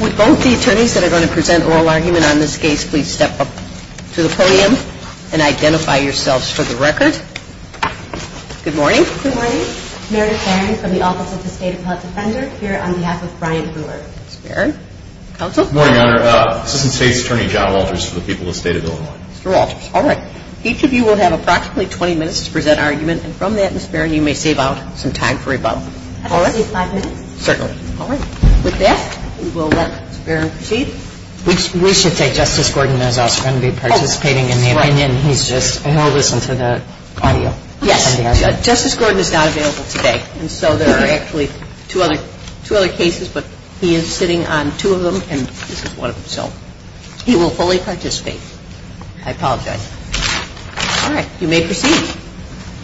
With both the attorneys that are going to present oral argument on this case, please step up to the podium and identify yourselves for the record. Good morning. Good morning. Meredith Barron from the Office of the State Appellate Defender here on behalf of Brian Brewer. Ms. Barron. Counsel. Good morning, Your Honor. Assistant State's Attorney John Walters for the people of the State of Illinois. Mr. Walters. All right. Each of you will have approximately 20 minutes to present argument, and from that, Ms. Barron, you may save out some time for rebuttal. All right. At least five minutes? Certainly. All right. With that, we will let Ms. Barron proceed. We should say Justice Gordon is also going to be participating in the opinion. He's just going to listen to the audio. Yes. Justice Gordon is not available today, and so there are actually two other cases, but he is sitting on two of them, and this is one of them. So he will fully participate. I apologize. All right. You may proceed.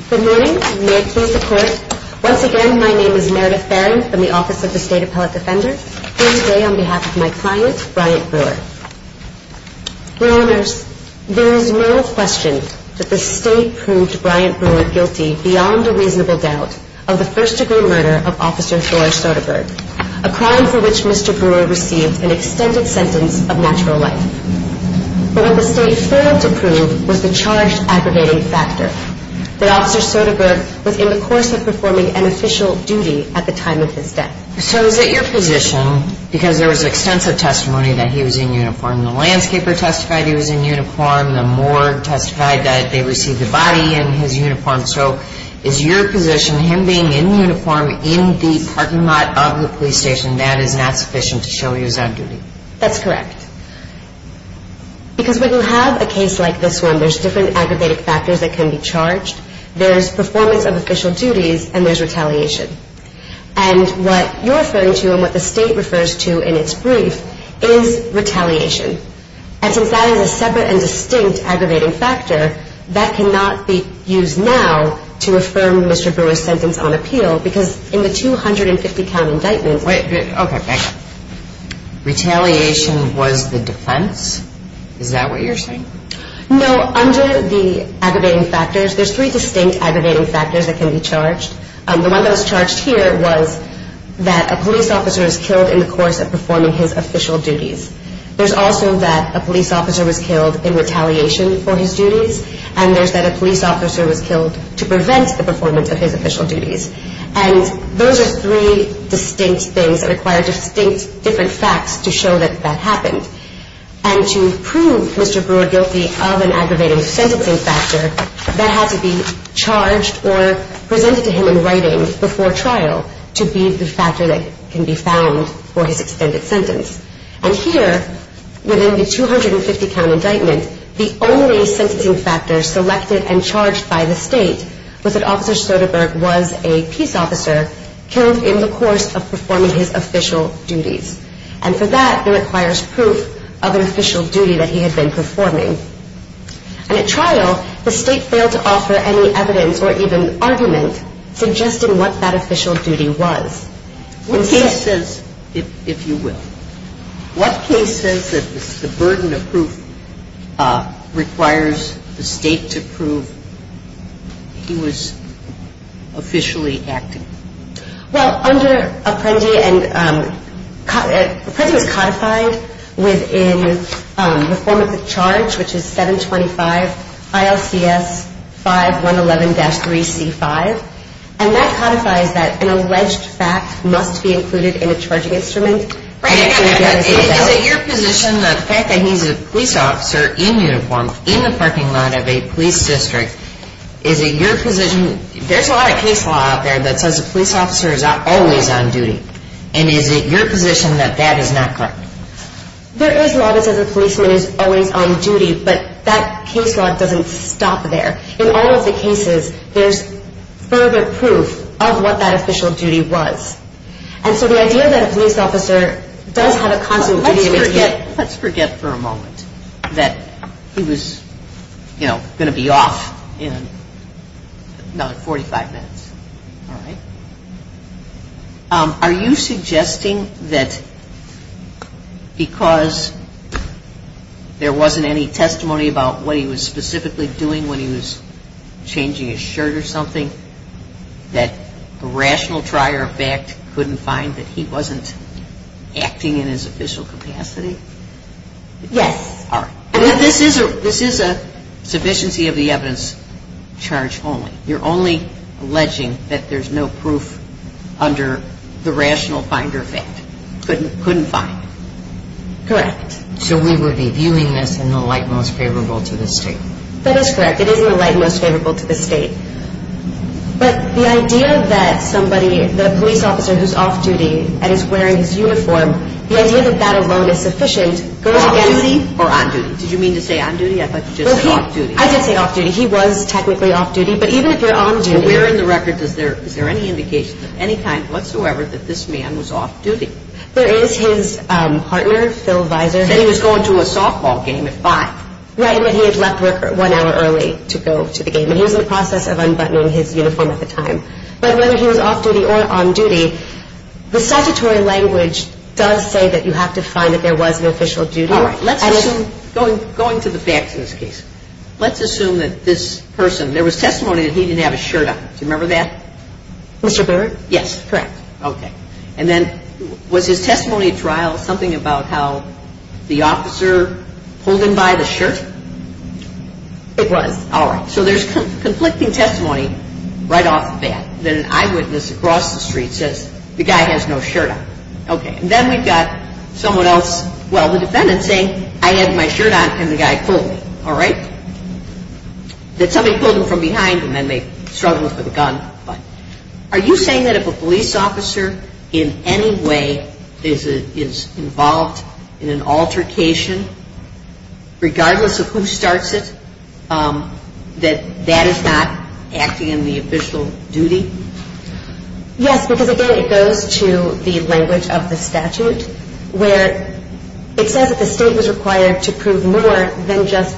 Good morning. Good morning, Ms. Barron. Once again, my name is Meredith Barron from the Office of the State Appellate Defender here today on behalf of my client, Brian Brewer. Your Honors, there is no question that the State proved Brian Brewer guilty, beyond a reasonable doubt, of the first-degree murder of Officer Flora Soderberg, a crime for which Mr. Brewer received an extended sentence of natural life. But what the State failed to prove was the charge-aggravating factor, that Officer Soderberg was in the courtroom in the course of performing an official duty at the time of his death. So is it your position, because there was extensive testimony that he was in uniform, the landscaper testified he was in uniform, the morgue testified that they received the body in his uniform, so is your position him being in uniform in the parking lot of the police station, that is not sufficient to show he was on duty? That's correct. Because when you have a case like this one, there's different aggravated factors that can be charged. There's performance of official duties, and there's retaliation. And what you're referring to and what the State refers to in its brief is retaliation. And since that is a separate and distinct aggravating factor, that cannot be used now to affirm Mr. Brewer's sentence on appeal, because in the 250-count indictment... Wait, okay, back up. Retaliation was the defense? Is that what you're saying? No, under the aggravating factors, there's three distinct aggravating factors that can be charged. The one that was charged here was that a police officer was killed in the course of performing his official duties. There's also that a police officer was killed in retaliation for his duties, and there's that a police officer was killed to prevent the performance of his official duties. And those are three distinct things that require distinct different facts to show that that happened. And to prove Mr. Brewer guilty of an aggravating sentencing factor, that has to be charged or presented to him in writing before trial to be the factor that can be found for his extended sentence. And here, within the 250-count indictment, the only sentencing factor selected and charged by the State was that Officer Soderbergh was a peace officer killed in the course of performing his official duties. And for that, it requires proof of an official duty that he had been performing. And at trial, the State failed to offer any evidence or even argument suggesting what that official duty was. What case says, if you will, what case says that the burden of proof requires the State to prove he was officially acting? Well, under Apprendi, Apprendi was codified within the form of the charge, which is 725 ILCS 5111-3C5. And that codifies that an alleged fact must be included in a charging instrument. Is it your position that the fact that he's a police officer in uniform, in the parking lot of a police district, is it your position, there's a lot of case law out there that says a police officer is always on duty. And is it your position that that is not correct? There is law that says a policeman is always on duty, but that case law doesn't stop there. In all of the cases, there's further proof of what that official duty was. And so the idea that a police officer does have a constant duty... Let's forget for a moment that he was, you know, going to be off in another 45 minutes, all right? Are you suggesting that because there wasn't any testimony about what he was specifically doing when he was changing his shirt or something, that the rational trier of fact couldn't find that he wasn't acting in his official capacity? Yes. All right. This is a sufficiency of the evidence charge only. You're only alleging that there's no proof under the rational finder fact. Couldn't find. Correct. So we would be viewing this in the light most favorable to the state. That is correct. It is in the light most favorable to the state. But the idea that somebody, the police officer who's off duty and is wearing his uniform, the idea that that alone is sufficient goes against... Off duty or on duty? Did you mean to say on duty? I thought you just said off duty. I did say off duty. He was technically off duty. But even if you're on duty... Where in the record is there any indication of any kind whatsoever that this man was off duty? There is his partner, Phil Visor. Said he was going to a softball game at 5. Right. And that he had left work one hour early to go to the game. And he was in the process of unbuttoning his uniform at the time. But whether he was off duty or on duty, the statutory language does say that you have to find that there was an official duty. All right. Going to the facts in this case, let's assume that this person, there was testimony that he didn't have his shirt on. Do you remember that? Mr. Bird? Yes. Correct. Okay. And then was his testimony at trial something about how the officer pulled him by the shirt? It was. All right. So there's conflicting testimony right off the bat. Then an eyewitness across the street says, the guy has no shirt on. Okay. And then we've got someone else, well, the defendant saying, I had my shirt on and the guy pulled me. All right. That somebody pulled him from behind and then they struggled with the gun. Are you saying that if a police officer in any way is involved in an altercation, regardless of who starts it, that that is not acting in the official duty? Yes, because, again, it goes to the language of the statute, where it says that the state was required to prove more than just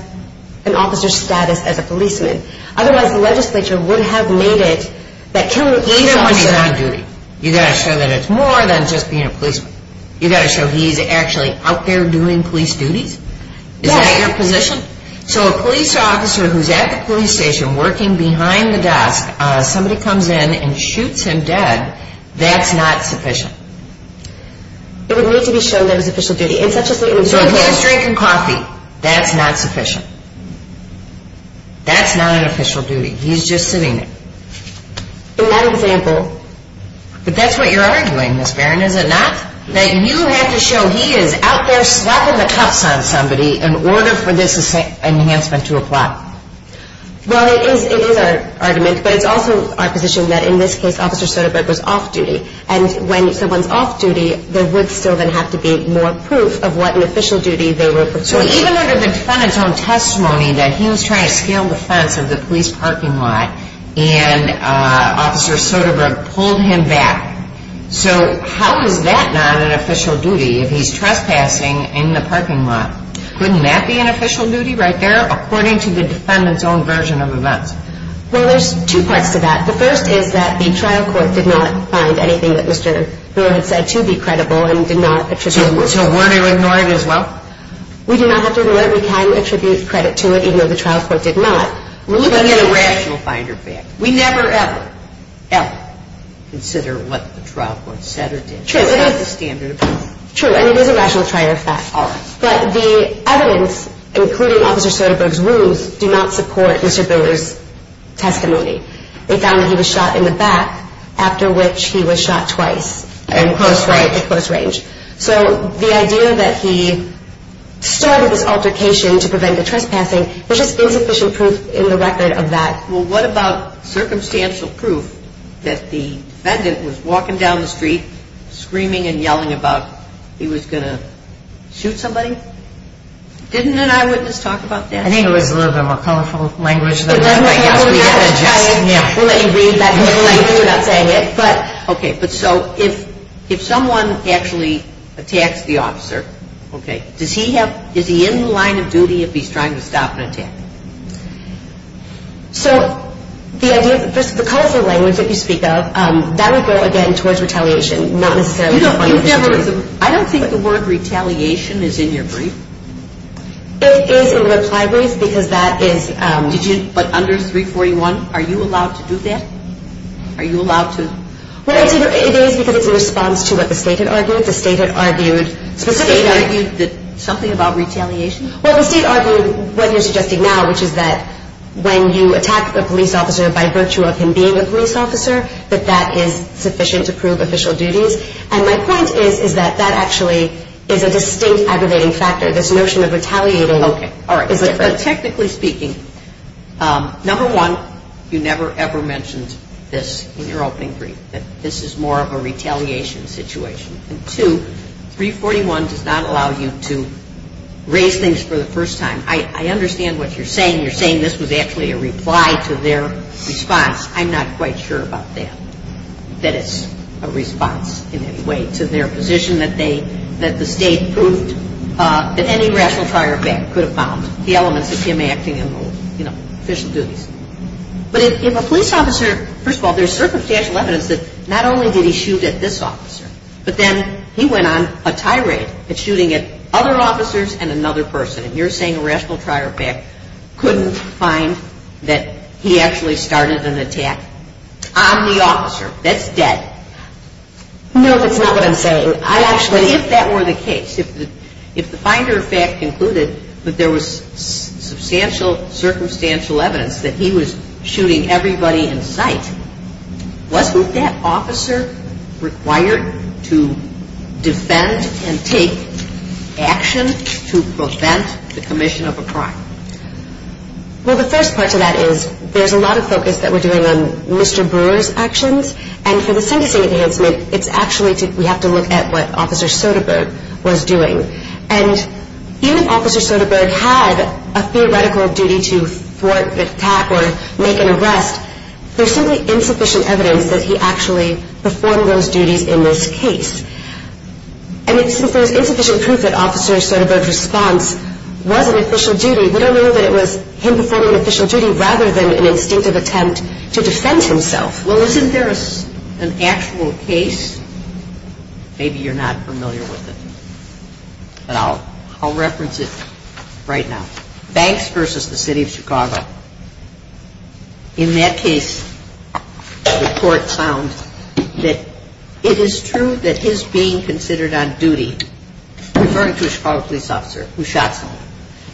an officer's status as a policeman. Otherwise, the legislature would have made it that killing each officer. Even when he's on duty, you've got to show that it's more than just being a policeman. You've got to show he's actually out there doing police duties? Yes. Is that your position? So a police officer who's at the police station working behind the desk, somebody comes in and shoots him dead, that's not sufficient? It would need to be shown that it was official duty. So if he was drinking coffee, that's not sufficient? That's not an official duty. He's just sitting there. In that example. But that's what you're arguing, Ms. Barron, is it not? That you have to show he is out there slapping the cuffs on somebody in order for this enhancement to apply? Well, it is our argument, but it's also our position that in this case, Officer Soderberg was off duty. And when someone's off duty, there would still then have to be more proof of what an official duty they were performing. So even under the defendant's own testimony that he was trying to scale the fence of the police parking lot and Officer Soderberg pulled him back. So how is that not an official duty if he's trespassing in the parking lot? Wouldn't that be an official duty right there according to the defendant's own version of events? Well, there's two parts to that. The first is that the trial court did not find anything that Mr. Brewer had said to be credible and did not attribute. So weren't you ignoring it as well? We do not have to ignore it. We can attribute credit to it even though the trial court did not. We're looking at a rational finder fact. We never, ever, ever consider what the trial court said or did. True. It's not the standard approach. True, and it is a rational finder fact. All right. But the evidence, including Officer Soderberg's rules, do not support Mr. Brewer's testimony. They found that he was shot in the back, after which he was shot twice. In close range. In close range. So the idea that he started this altercation to prevent the trespassing was just insufficient proof in the record of that. Well, what about circumstantial proof that the defendant was walking down the street screaming and yelling about he was going to shoot somebody? Didn't an eyewitness talk about that? I think it was a little bit more colorful language than that. We'll let you read that. We're not saying it. Okay. But so if someone actually attacks the officer, okay, does he have, is he in the line of duty if he's trying to stop an attack? So the idea, the colorful language that you speak of, that would go, again, towards retaliation, not necessarily defamation. I don't think the word retaliation is in your brief. It is in the reply brief because that is. But under 341, are you allowed to do that? Are you allowed to? Well, it is because it's in response to what the State had argued. The State had argued specifically. The State argued something about retaliation? Well, the State argued what you're suggesting now, which is that when you attack a police officer by virtue of him being a police officer, that that is sufficient to prove official duties. And my point is, is that that actually is a distinct aggravating factor. This notion of retaliating is different. But technically speaking, number one, you never, ever mentioned this in your opening brief, that this is more of a retaliation situation. And two, 341 does not allow you to raise things for the first time. I understand what you're saying. You're saying this was actually a reply to their response. I'm not quite sure about that, that it's a response in any way to their position that they, that the State proved that any rational trier of back could have found the elements of him acting in official duties. But if a police officer, first of all, there's circumstantial evidence that not only did he shoot at this officer, but then he went on a tirade at shooting at other officers and another person. And you're saying a rational trier of back couldn't find that he actually started an attack on the officer. That's dead. No, that's not what I'm saying. But if that were the case, if the finder of fact concluded that there was substantial circumstantial evidence that he was shooting everybody in sight, wasn't that officer required to defend and take action to prevent the commission of a crime? Well, the first part to that is there's a lot of focus that we're doing on Mr. Brewer's actions. And for the sentencing enhancement, it's actually to, we have to look at what Officer Soderbergh was doing. And even if Officer Soderbergh had a theoretical duty to thwart the attack or make an arrest, there's simply insufficient evidence that he actually performed those duties in this case. And since there's insufficient proof that Officer Soderbergh's response was an official duty, we don't know that it was him performing an official duty rather than an instinctive attempt to defend himself. Well, isn't there an actual case? Maybe you're not familiar with it. But I'll reference it right now. Banks v. The City of Chicago. In that case, the court found that it is true that his being considered on duty, referring to a Chicago police officer who shot someone,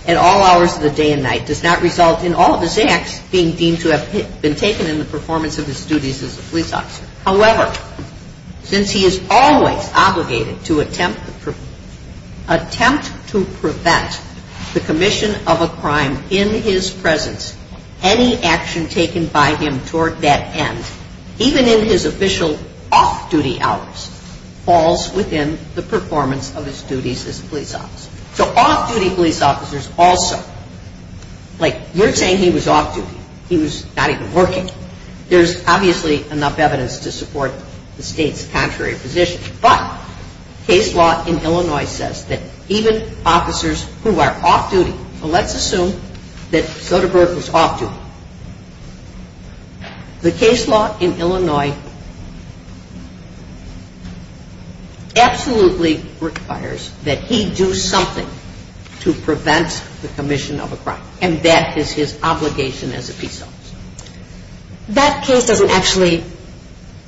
at all hours of the day and night does not result in all of his acts being deemed to have been taken in the performance of his duties as a police officer. However, since he is always obligated to attempt to prevent the commission of a crime in his presence, any action taken by him toward that end, even in his official off-duty hours, falls within the performance of his duties as a police officer. So off-duty police officers also, like you're saying he was off-duty. He was not even working. There's obviously enough evidence to support the state's contrary position. But case law in Illinois says that even officers who are off-duty, so let's assume that Soderbergh was off-duty. The case law in Illinois absolutely requires that he do something to prevent the commission of a crime. And that is his obligation as a police officer. That case doesn't actually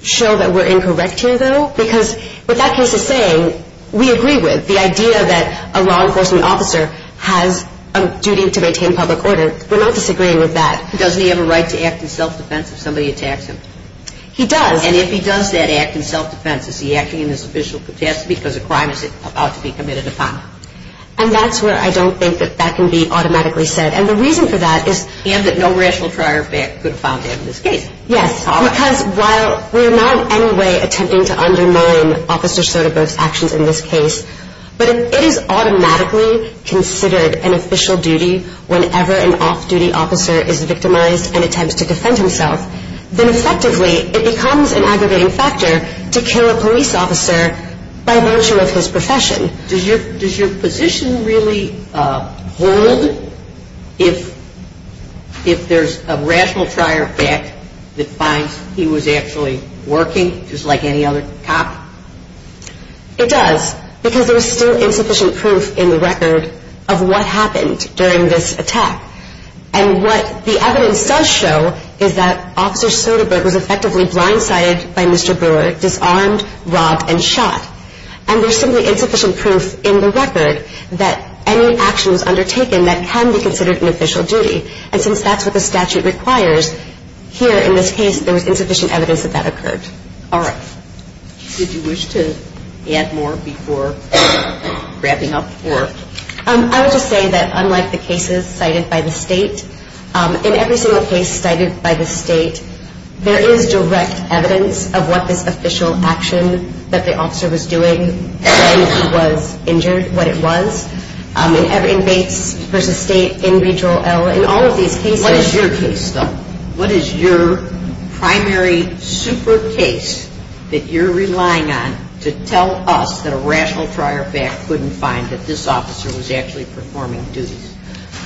show that we're incorrect here, though, because what that case is saying, we agree with. The idea that a law enforcement officer has a duty to maintain public order, we're not disagreeing with that. Doesn't he have a right to act in self-defense if somebody attacks him? He does. And if he does that act in self-defense, is he acting in his official capacity because a crime is about to be committed upon? And that's where I don't think that that can be automatically said. And the reason for that is... And that no rational trier could have found that in this case. Yes, because while we're not in any way attempting to undermine Officer Soderbergh's actions in this case, but if it is automatically considered an official duty whenever an off-duty officer is victimized and attempts to defend himself, then effectively it becomes an aggravating factor to kill a police officer by virtue of his profession. Does your position really hold if there's a rational trier back that finds he was actually working, just like any other cop? It does. Because there's still insufficient proof in the record of what happened during this attack. And what the evidence does show is that Officer Soderbergh was effectively blindsided by Mr. Brewer, disarmed, robbed, and shot. And there's simply insufficient proof in the record that any action was undertaken that can be considered an official duty. And since that's what the statute requires, here in this case there was insufficient evidence that that occurred. All right. Did you wish to add more before wrapping up? I would just say that unlike the cases cited by the state, in every single case cited by the state, there is direct evidence of what this official action that the officer was doing when he was injured, what it was. In Bates v. State, in Regional L, in all of these cases. What is your case, though? What is your primary super case that you're relying on to tell us that a rational trier back couldn't find that this officer was actually performing duties?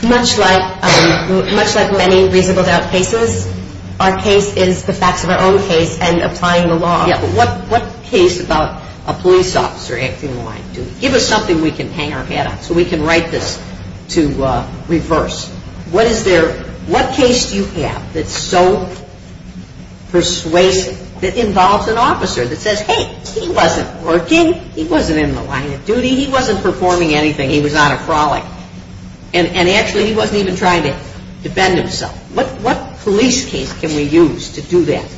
Much like many reasonable doubt cases, our case is the facts of our own case and applying the law. Yeah, but what case about a police officer acting blind? Give us something we can hang our hat on so we can write this to reverse. What is there, what case do you have that's so persuasive that involves an officer that says, hey, he wasn't working, he wasn't in the line of duty, he wasn't performing anything, he was on a frolic. And actually he wasn't even trying to defend himself. What police case can we use to do that?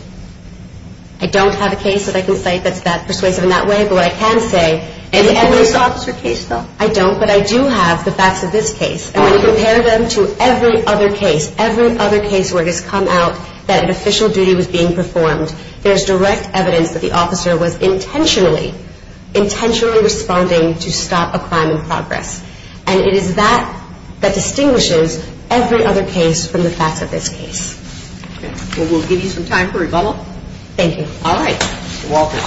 I don't have a case that I can cite that's that persuasive in that way, but what I can say. Do you have this officer case, though? I don't, but I do have the facts of this case. And when you compare them to every other case, every other case where it has come out that an official duty was being performed, there's direct evidence that the officer was intentionally, intentionally responding to stop a crime in progress. And it is that that distinguishes every other case from the facts of this case. Well, we'll give you some time for rebuttal. All right. You're welcome.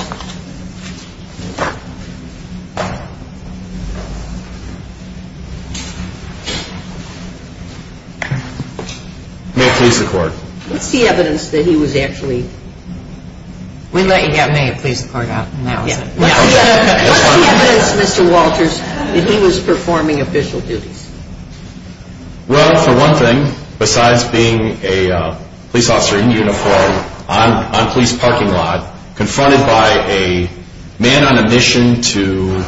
May I please the court? What's the evidence that he was actually? We let you go. May I please the court now? What's the evidence, Mr. Walters, that he was performing official duties? Well, for one thing, besides being a police officer in uniform on a police parking lot, confronted by a man on a mission to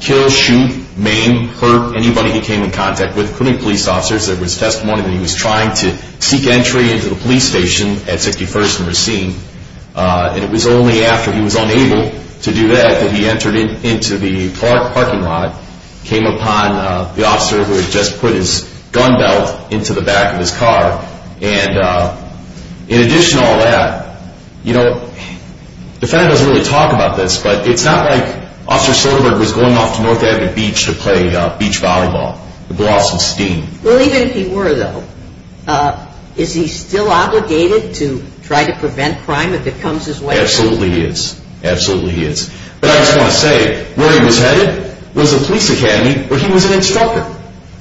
kill, shoot, maim, hurt anybody he came in contact with, including police officers, there was testimony that he was trying to seek entry into the police station at 61st and Racine. And it was only after he was unable to do that that he entered into the parking lot, came upon the officer who had just put his gun belt into the back of his car. And in addition to all that, you know, the fact doesn't really talk about this, but it's not like Officer Silverberg was going off to North Avenue Beach to play beach volleyball to blow off some steam. Well, even if he were, though, is he still obligated to try to prevent crime if it comes his way? Absolutely he is. Absolutely he is. But I just want to say, where he was headed was a police academy where he was an instructor.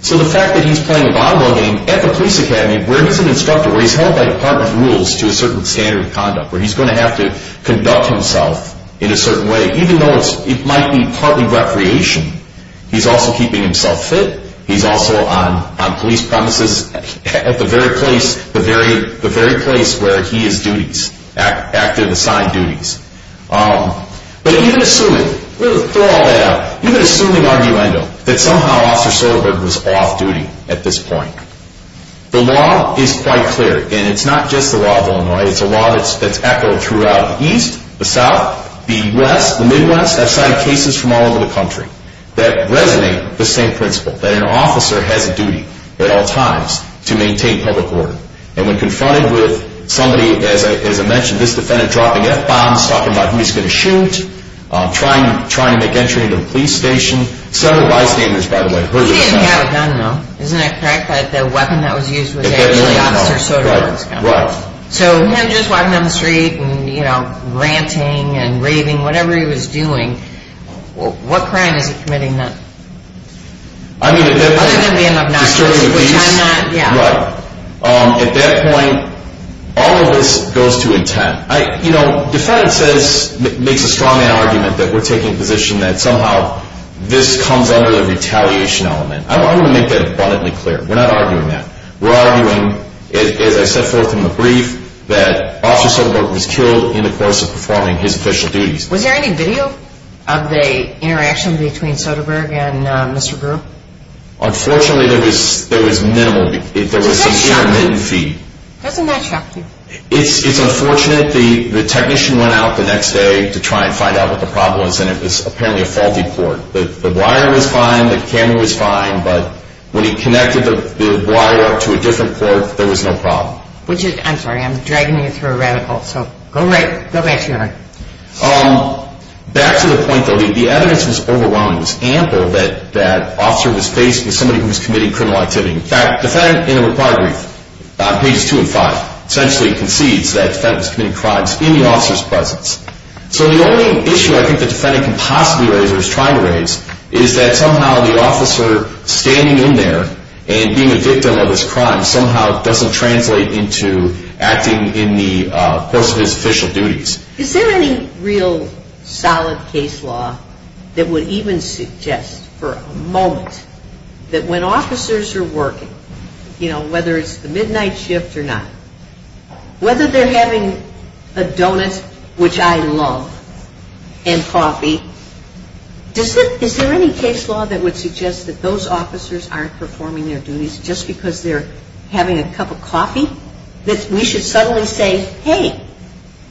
So the fact that he's playing a volleyball game at the police academy where he's an instructor, where he's held by department rules to a certain standard of conduct, where he's going to have to conduct himself in a certain way, even though it might be partly recreation, he's also keeping himself fit, he's also on police premises at the very place where he is duties, active assigned duties. But even assuming, we'll throw all that out, even assuming argumentum, that somehow Officer Silverberg was off duty at this point, the law is quite clear. And it's not just the law of Illinois, it's a law that's echoed throughout the East, the South, the West, the Midwest. I've cited cases from all over the country that resonate the same principle, that an officer has a duty at all times to maintain public order. And when confronted with somebody, as I mentioned, this defendant dropping F-bombs, talking about who he's going to shoot, trying to make entry into a police station. Several bystanders, by the way, heard this. He didn't have a gun, though, isn't that correct? The weapon that was used was actually Officer Soderberg's gun. Right. So he was just walking down the street and, you know, ranting and raving, whatever he was doing. What crime is he committing then? Other than being obnoxious, which I'm not, yeah. Right. At that point, all of this goes to intent. You know, defense makes a strong argument that we're taking a position that somehow this comes under the retaliation element. I want to make that abundantly clear. We're not arguing that. We're arguing, as I set forth in the brief, that Officer Soderberg was killed in the course of performing his official duties. Was there any video of the interaction between Soderberg and Mr. Brewer? Unfortunately, there was minimal. There was a sheer min-fee. Doesn't that shock you? It's unfortunate. The technician went out the next day to try and find out what the problem was, and it was apparently a faulty port. The wire was fine, the camera was fine, but when he connected the wire to a different port, there was no problem. Which is, I'm sorry, I'm dragging you through a radical. So go back to your argument. Back to the point, though, the evidence was overwhelming. It was ample that the officer was faced with somebody who was committing criminal activity. In fact, the defendant in the required brief, pages 2 and 5, essentially concedes that the defendant was committing crimes in the officer's presence. So the only issue I think the defendant can possibly raise or is trying to raise is that somehow the officer standing in there and being a victim of this crime somehow doesn't translate into acting in the course of his official duties. Is there any real solid case law that would even suggest for a moment that when officers are working, you know, whether it's the midnight shift or not, whether they're having a donut, which I love, and coffee, is there any case law that would suggest that those officers aren't performing their duties just because they're having a cup of coffee? That we should suddenly say, hey,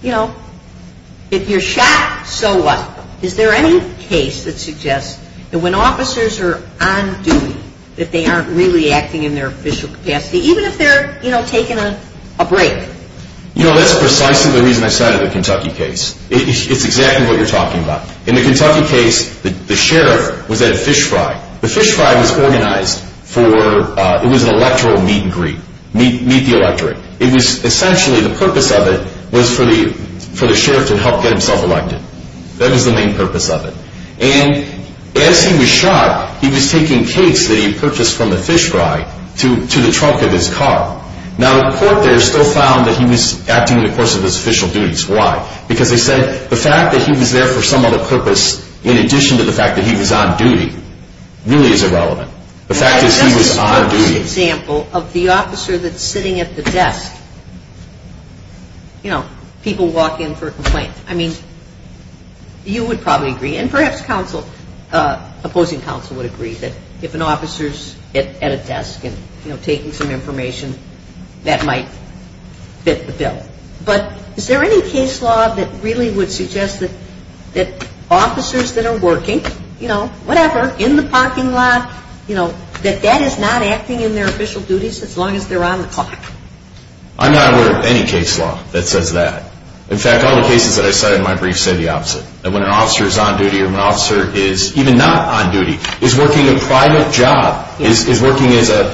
you know, if you're shot, so what? Is there any case that suggests that when officers are on duty, that they aren't really acting in their official capacity, even if they're, you know, taking a break? You know, that's precisely the reason I started the Kentucky case. It's exactly what you're talking about. In the Kentucky case, the sheriff was at a fish fry. The fish fry was organized for, it was an electoral meet and greet, meet the electorate. It was essentially, the purpose of it was for the sheriff to help get himself elected. That was the main purpose of it. And as he was shot, he was taking cakes that he purchased from the fish fry to the trunk of his car. Now, the court there still found that he was acting in the course of his official duties. Why? Because they said the fact that he was there for some other purpose, in addition to the fact that he was on duty, really is irrelevant. The fact is he was on duty. Just as an example of the officer that's sitting at the desk, you know, people walk in for a complaint. I mean, you would probably agree, and perhaps opposing counsel would agree, that if an officer's at a desk and, you know, taking some information, that might fit the bill. But is there any case law that really would suggest that officers that are working, you know, whatever, in the parking lot, you know, that that is not acting in their official duties as long as they're on the clock? I'm not aware of any case law that says that. In fact, all the cases that I cited in my brief said the opposite. That when an officer is on duty or when an officer is even not on duty, is working a private job, is working as a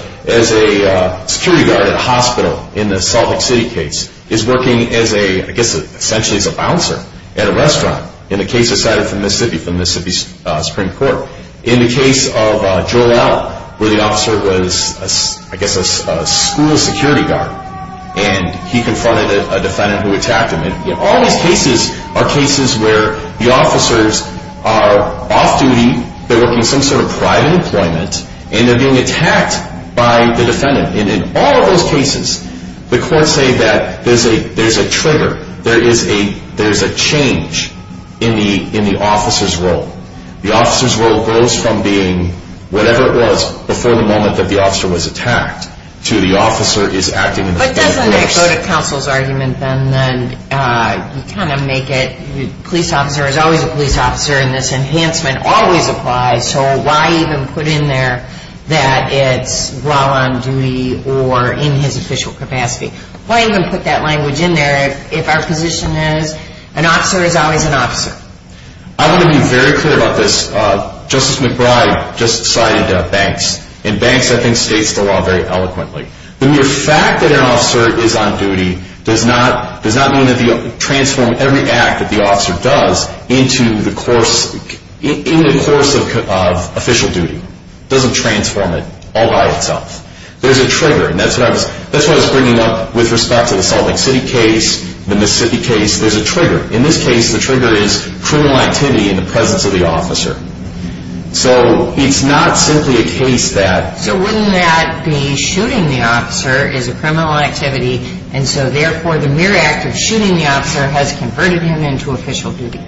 security guard at a hospital in the Salt Lake City case, is working as a, I guess, essentially as a bouncer at a restaurant, in the case I cited from Mississippi, from Mississippi's Supreme Court. In the case of Joel Allen, where the officer was, I guess, a school security guard, and he confronted a defendant who attacked him. All these cases are cases where the officers are off duty. They're working some sort of private employment. And they're being attacked by the defendant. And in all of those cases, the courts say that there's a trigger. There is a change in the officer's role. The officer's role goes from being whatever it was before the moment that the officer was attacked to the officer is acting in the police force. But doesn't that go to counsel's argument, then, that you kind of make it, the police officer is always a police officer, and this enhancement always applies, so why even put in there that it's while on duty or in his official capacity? Why even put that language in there if our position is an officer is always an officer? I want to be very clear about this. Justice McBride just cited Banks. And Banks, I think, states the law very eloquently. The mere fact that an officer is on duty does not mean that you transform every act that the officer does into the course of official duty. It doesn't transform it all by itself. There's a trigger, and that's what I was bringing up with respect to the Salt Lake City case, the Mississippi case. There's a trigger. In this case, the trigger is criminal activity in the presence of the officer. So it's not simply a case that... So wouldn't that be shooting the officer is a criminal activity, and so therefore the mere act of shooting the officer has converted him into official duty?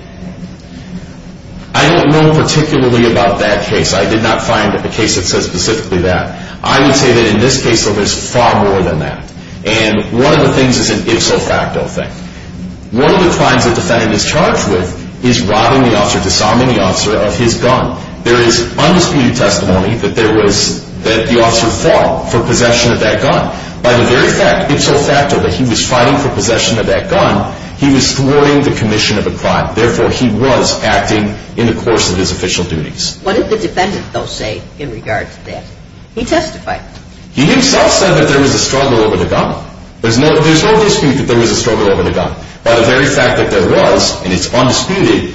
I don't know particularly about that case. I did not find a case that says specifically that. I would say that in this case, though, there's far more than that. And one of the things is an ipso facto thing. One of the crimes that the defendant is charged with is robbing the officer, disarming the officer of his gun. There is undisputed testimony that the officer fought for possession of that gun. By the very fact, ipso facto, that he was fighting for possession of that gun, he was thwarting the commission of a crime. Therefore, he was acting in the course of his official duties. What did the defendant, though, say in regard to that? He testified. He himself said that there was a struggle over the gun. There's no dispute that there was a struggle over the gun. By the very fact that there was, and it's undisputed,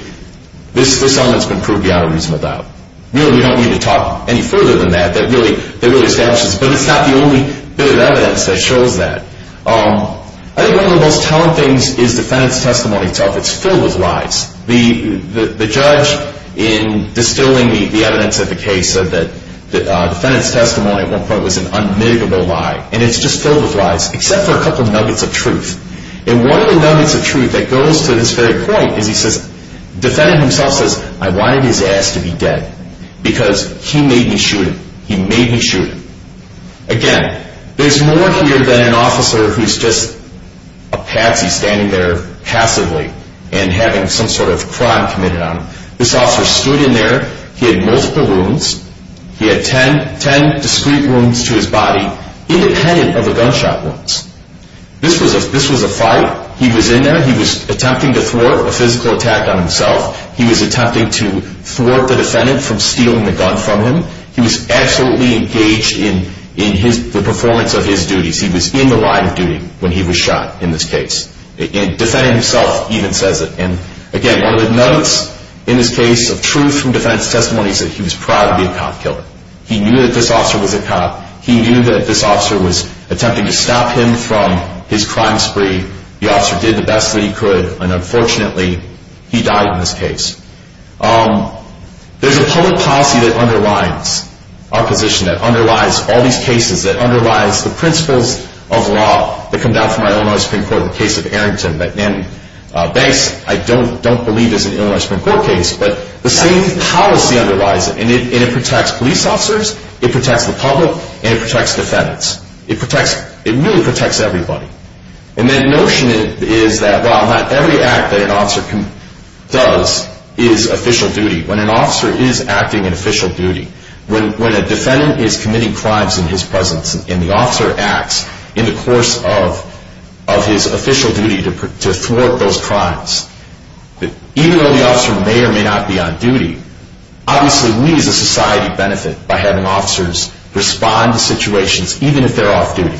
this element has been proved beyond a reason without. Really, we don't need to talk any further than that. That really establishes, but it's not the only bit of evidence that shows that. I think one of the most telling things is the defendant's testimony itself. It's filled with lies. The judge, in distilling the evidence of the case, said that the defendant's testimony at one point was an unmitigable lie. And it's just filled with lies, except for a couple of nuggets of truth. And one of the nuggets of truth that goes to this very point is he says, the defendant himself says, I wanted his ass to be dead because he made me shoot him. He made me shoot him. Again, there's more here than an officer who's just a patsy standing there passively and having some sort of crime committed on him. This officer stood in there. He had multiple wounds. He had 10 discrete wounds to his body, independent of the gunshot wounds. This was a fight. He was in there. He was attempting to thwart a physical attack on himself. He was attempting to thwart the defendant from stealing the gun from him. He was absolutely engaged in the performance of his duties. He was in the line of duty when he was shot in this case. Defending himself even says it. And, again, one of the nuggets in this case of truth from the defendant's testimony is that he was proud to be a cop killer. He knew that this officer was a cop. He knew that this officer was attempting to stop him from his crime spree. The officer did the best that he could, and, unfortunately, he died in this case. There's a public policy that underlies our position, that underlies all these cases, that underlies the principles of law that come down from our Illinois Supreme Court in the case of Arrington and Banks. I don't believe it's an Illinois Supreme Court case, but the same policy underlies it, and it protects police officers, it protects the public, and it protects defendants. It really protects everybody. And that notion is that, well, not every act that an officer does is official duty. When an officer is acting in official duty, when a defendant is committing crimes in his presence and the officer acts in the course of his official duty to thwart those crimes, even though the officer may or may not be on duty, obviously we as a society benefit by having officers respond to situations, even if they're off duty.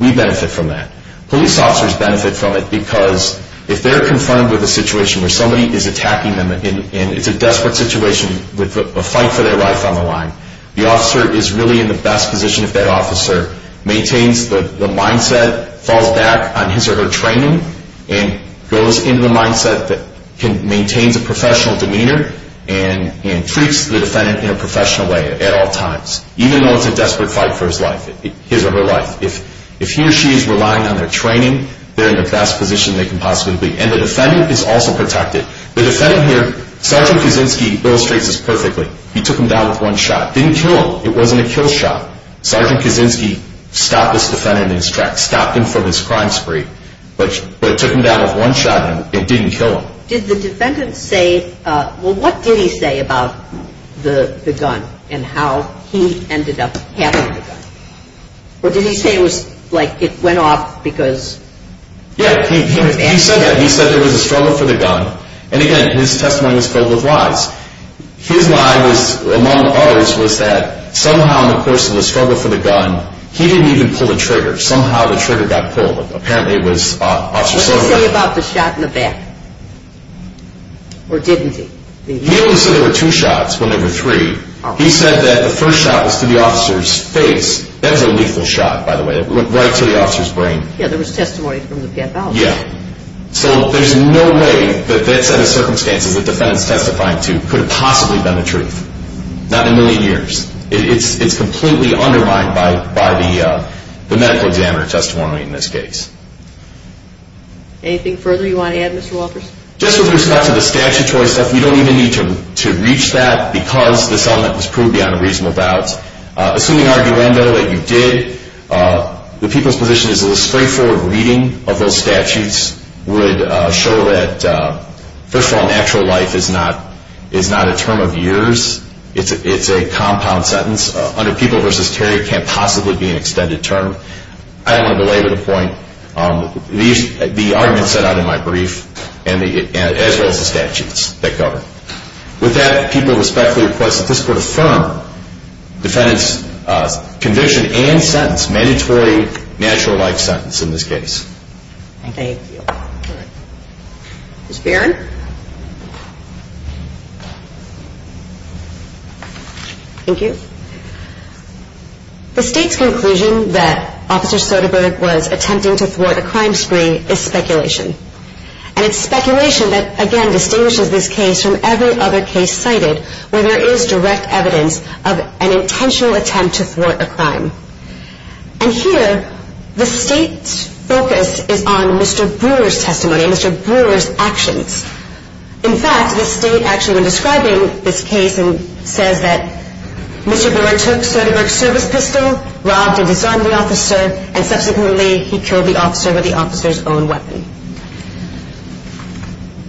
We benefit from that. Police officers benefit from it because if they're confronted with a situation where somebody is attacking them and it's a desperate situation with a fight for their life on the line, the officer is really in the best position if that officer maintains the mindset, falls back on his or her training, and goes into the mindset that maintains a professional demeanor and treats the defendant in a professional way at all times, even though it's a desperate fight for his life, his or her life. If he or she is relying on their training, they're in the best position they can possibly be. And the defendant is also protected. The defendant here, Sergeant Kaczynski illustrates this perfectly. He took him down with one shot. Didn't kill him. It wasn't a kill shot. Sergeant Kaczynski stopped this defendant in his tracks, stopped him from his crime spree. But it took him down with one shot and it didn't kill him. Did the defendant say, well, what did he say about the gun and how he ended up having the gun? Or did he say it was like it went off because he was after it? Yeah, he said that. He said there was a struggle for the gun. And, again, his testimony was filled with lies. His lie was, among others, was that somehow in the course of the struggle for the gun, he didn't even pull the trigger. Somehow the trigger got pulled. Apparently it was Officer Sullivan. What did he say about the shot in the back? Or didn't he? He only said there were two shots when there were three. He said that the first shot was to the officer's face. That was a lethal shot, by the way. It went right to the officer's brain. Yeah, there was testimony from the PFO. Yeah. So there's no way that that set of circumstances the defendant's testifying to could have possibly been the truth. Not in a million years. It's completely undermined by the medical examiner's testimony in this case. Anything further you want to add, Mr. Walters? Just with respect to the statute-wise stuff, we don't even need to reach that because this element was proved beyond a reasonable doubt. Assuming arguendo that you did, the people's position is that a straightforward reading of those statutes would show that, first of all, natural life is not a term of years. It's a compound sentence. Under People v. Terry, it can't possibly be an extended term. I don't want to belabor the point. The argument set out in my brief, as well as the statutes that govern. With that, people respectfully request that this Court affirm defendant's conviction and sentence, mandatory natural life sentence in this case. Thank you. Ms. Barron? Thank you. The State's conclusion that Officer Soderbergh was attempting to thwart a crime spree is speculation. And it's speculation that, again, distinguishes this case from every other case cited where there is direct evidence of an intentional attempt to thwart a crime. And here, the State's focus is on Mr. Brewer's testimony, Mr. Brewer's actions. In fact, the State actually went describing this case and says that Mr. Brewer took Soderbergh's service pistol, robbed and disarmed the officer, and subsequently he killed the officer with the officer's own weapon.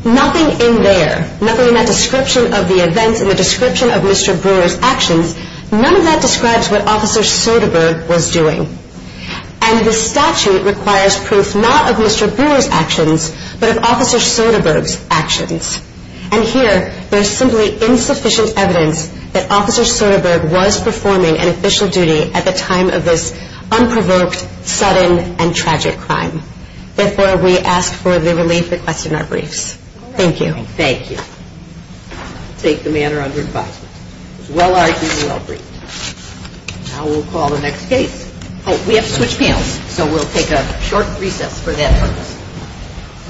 Nothing in there, nothing in that description of the events in the description of Mr. Brewer's actions, none of that describes what Officer Soderbergh was doing. And the statute requires proof not of Mr. Brewer's actions, but of Officer Soderbergh's actions. And here, there is simply insufficient evidence that Officer Soderbergh was performing an official duty at the time of this unprovoked, sudden, and tragic crime. Therefore, we ask for the relief requested in our briefs. Thank you. Thank you. I take the matter under advisement. It was well argued and well briefed. Now we'll call the next case. Oh, we have to switch panels, so we'll take a short recess for that purpose.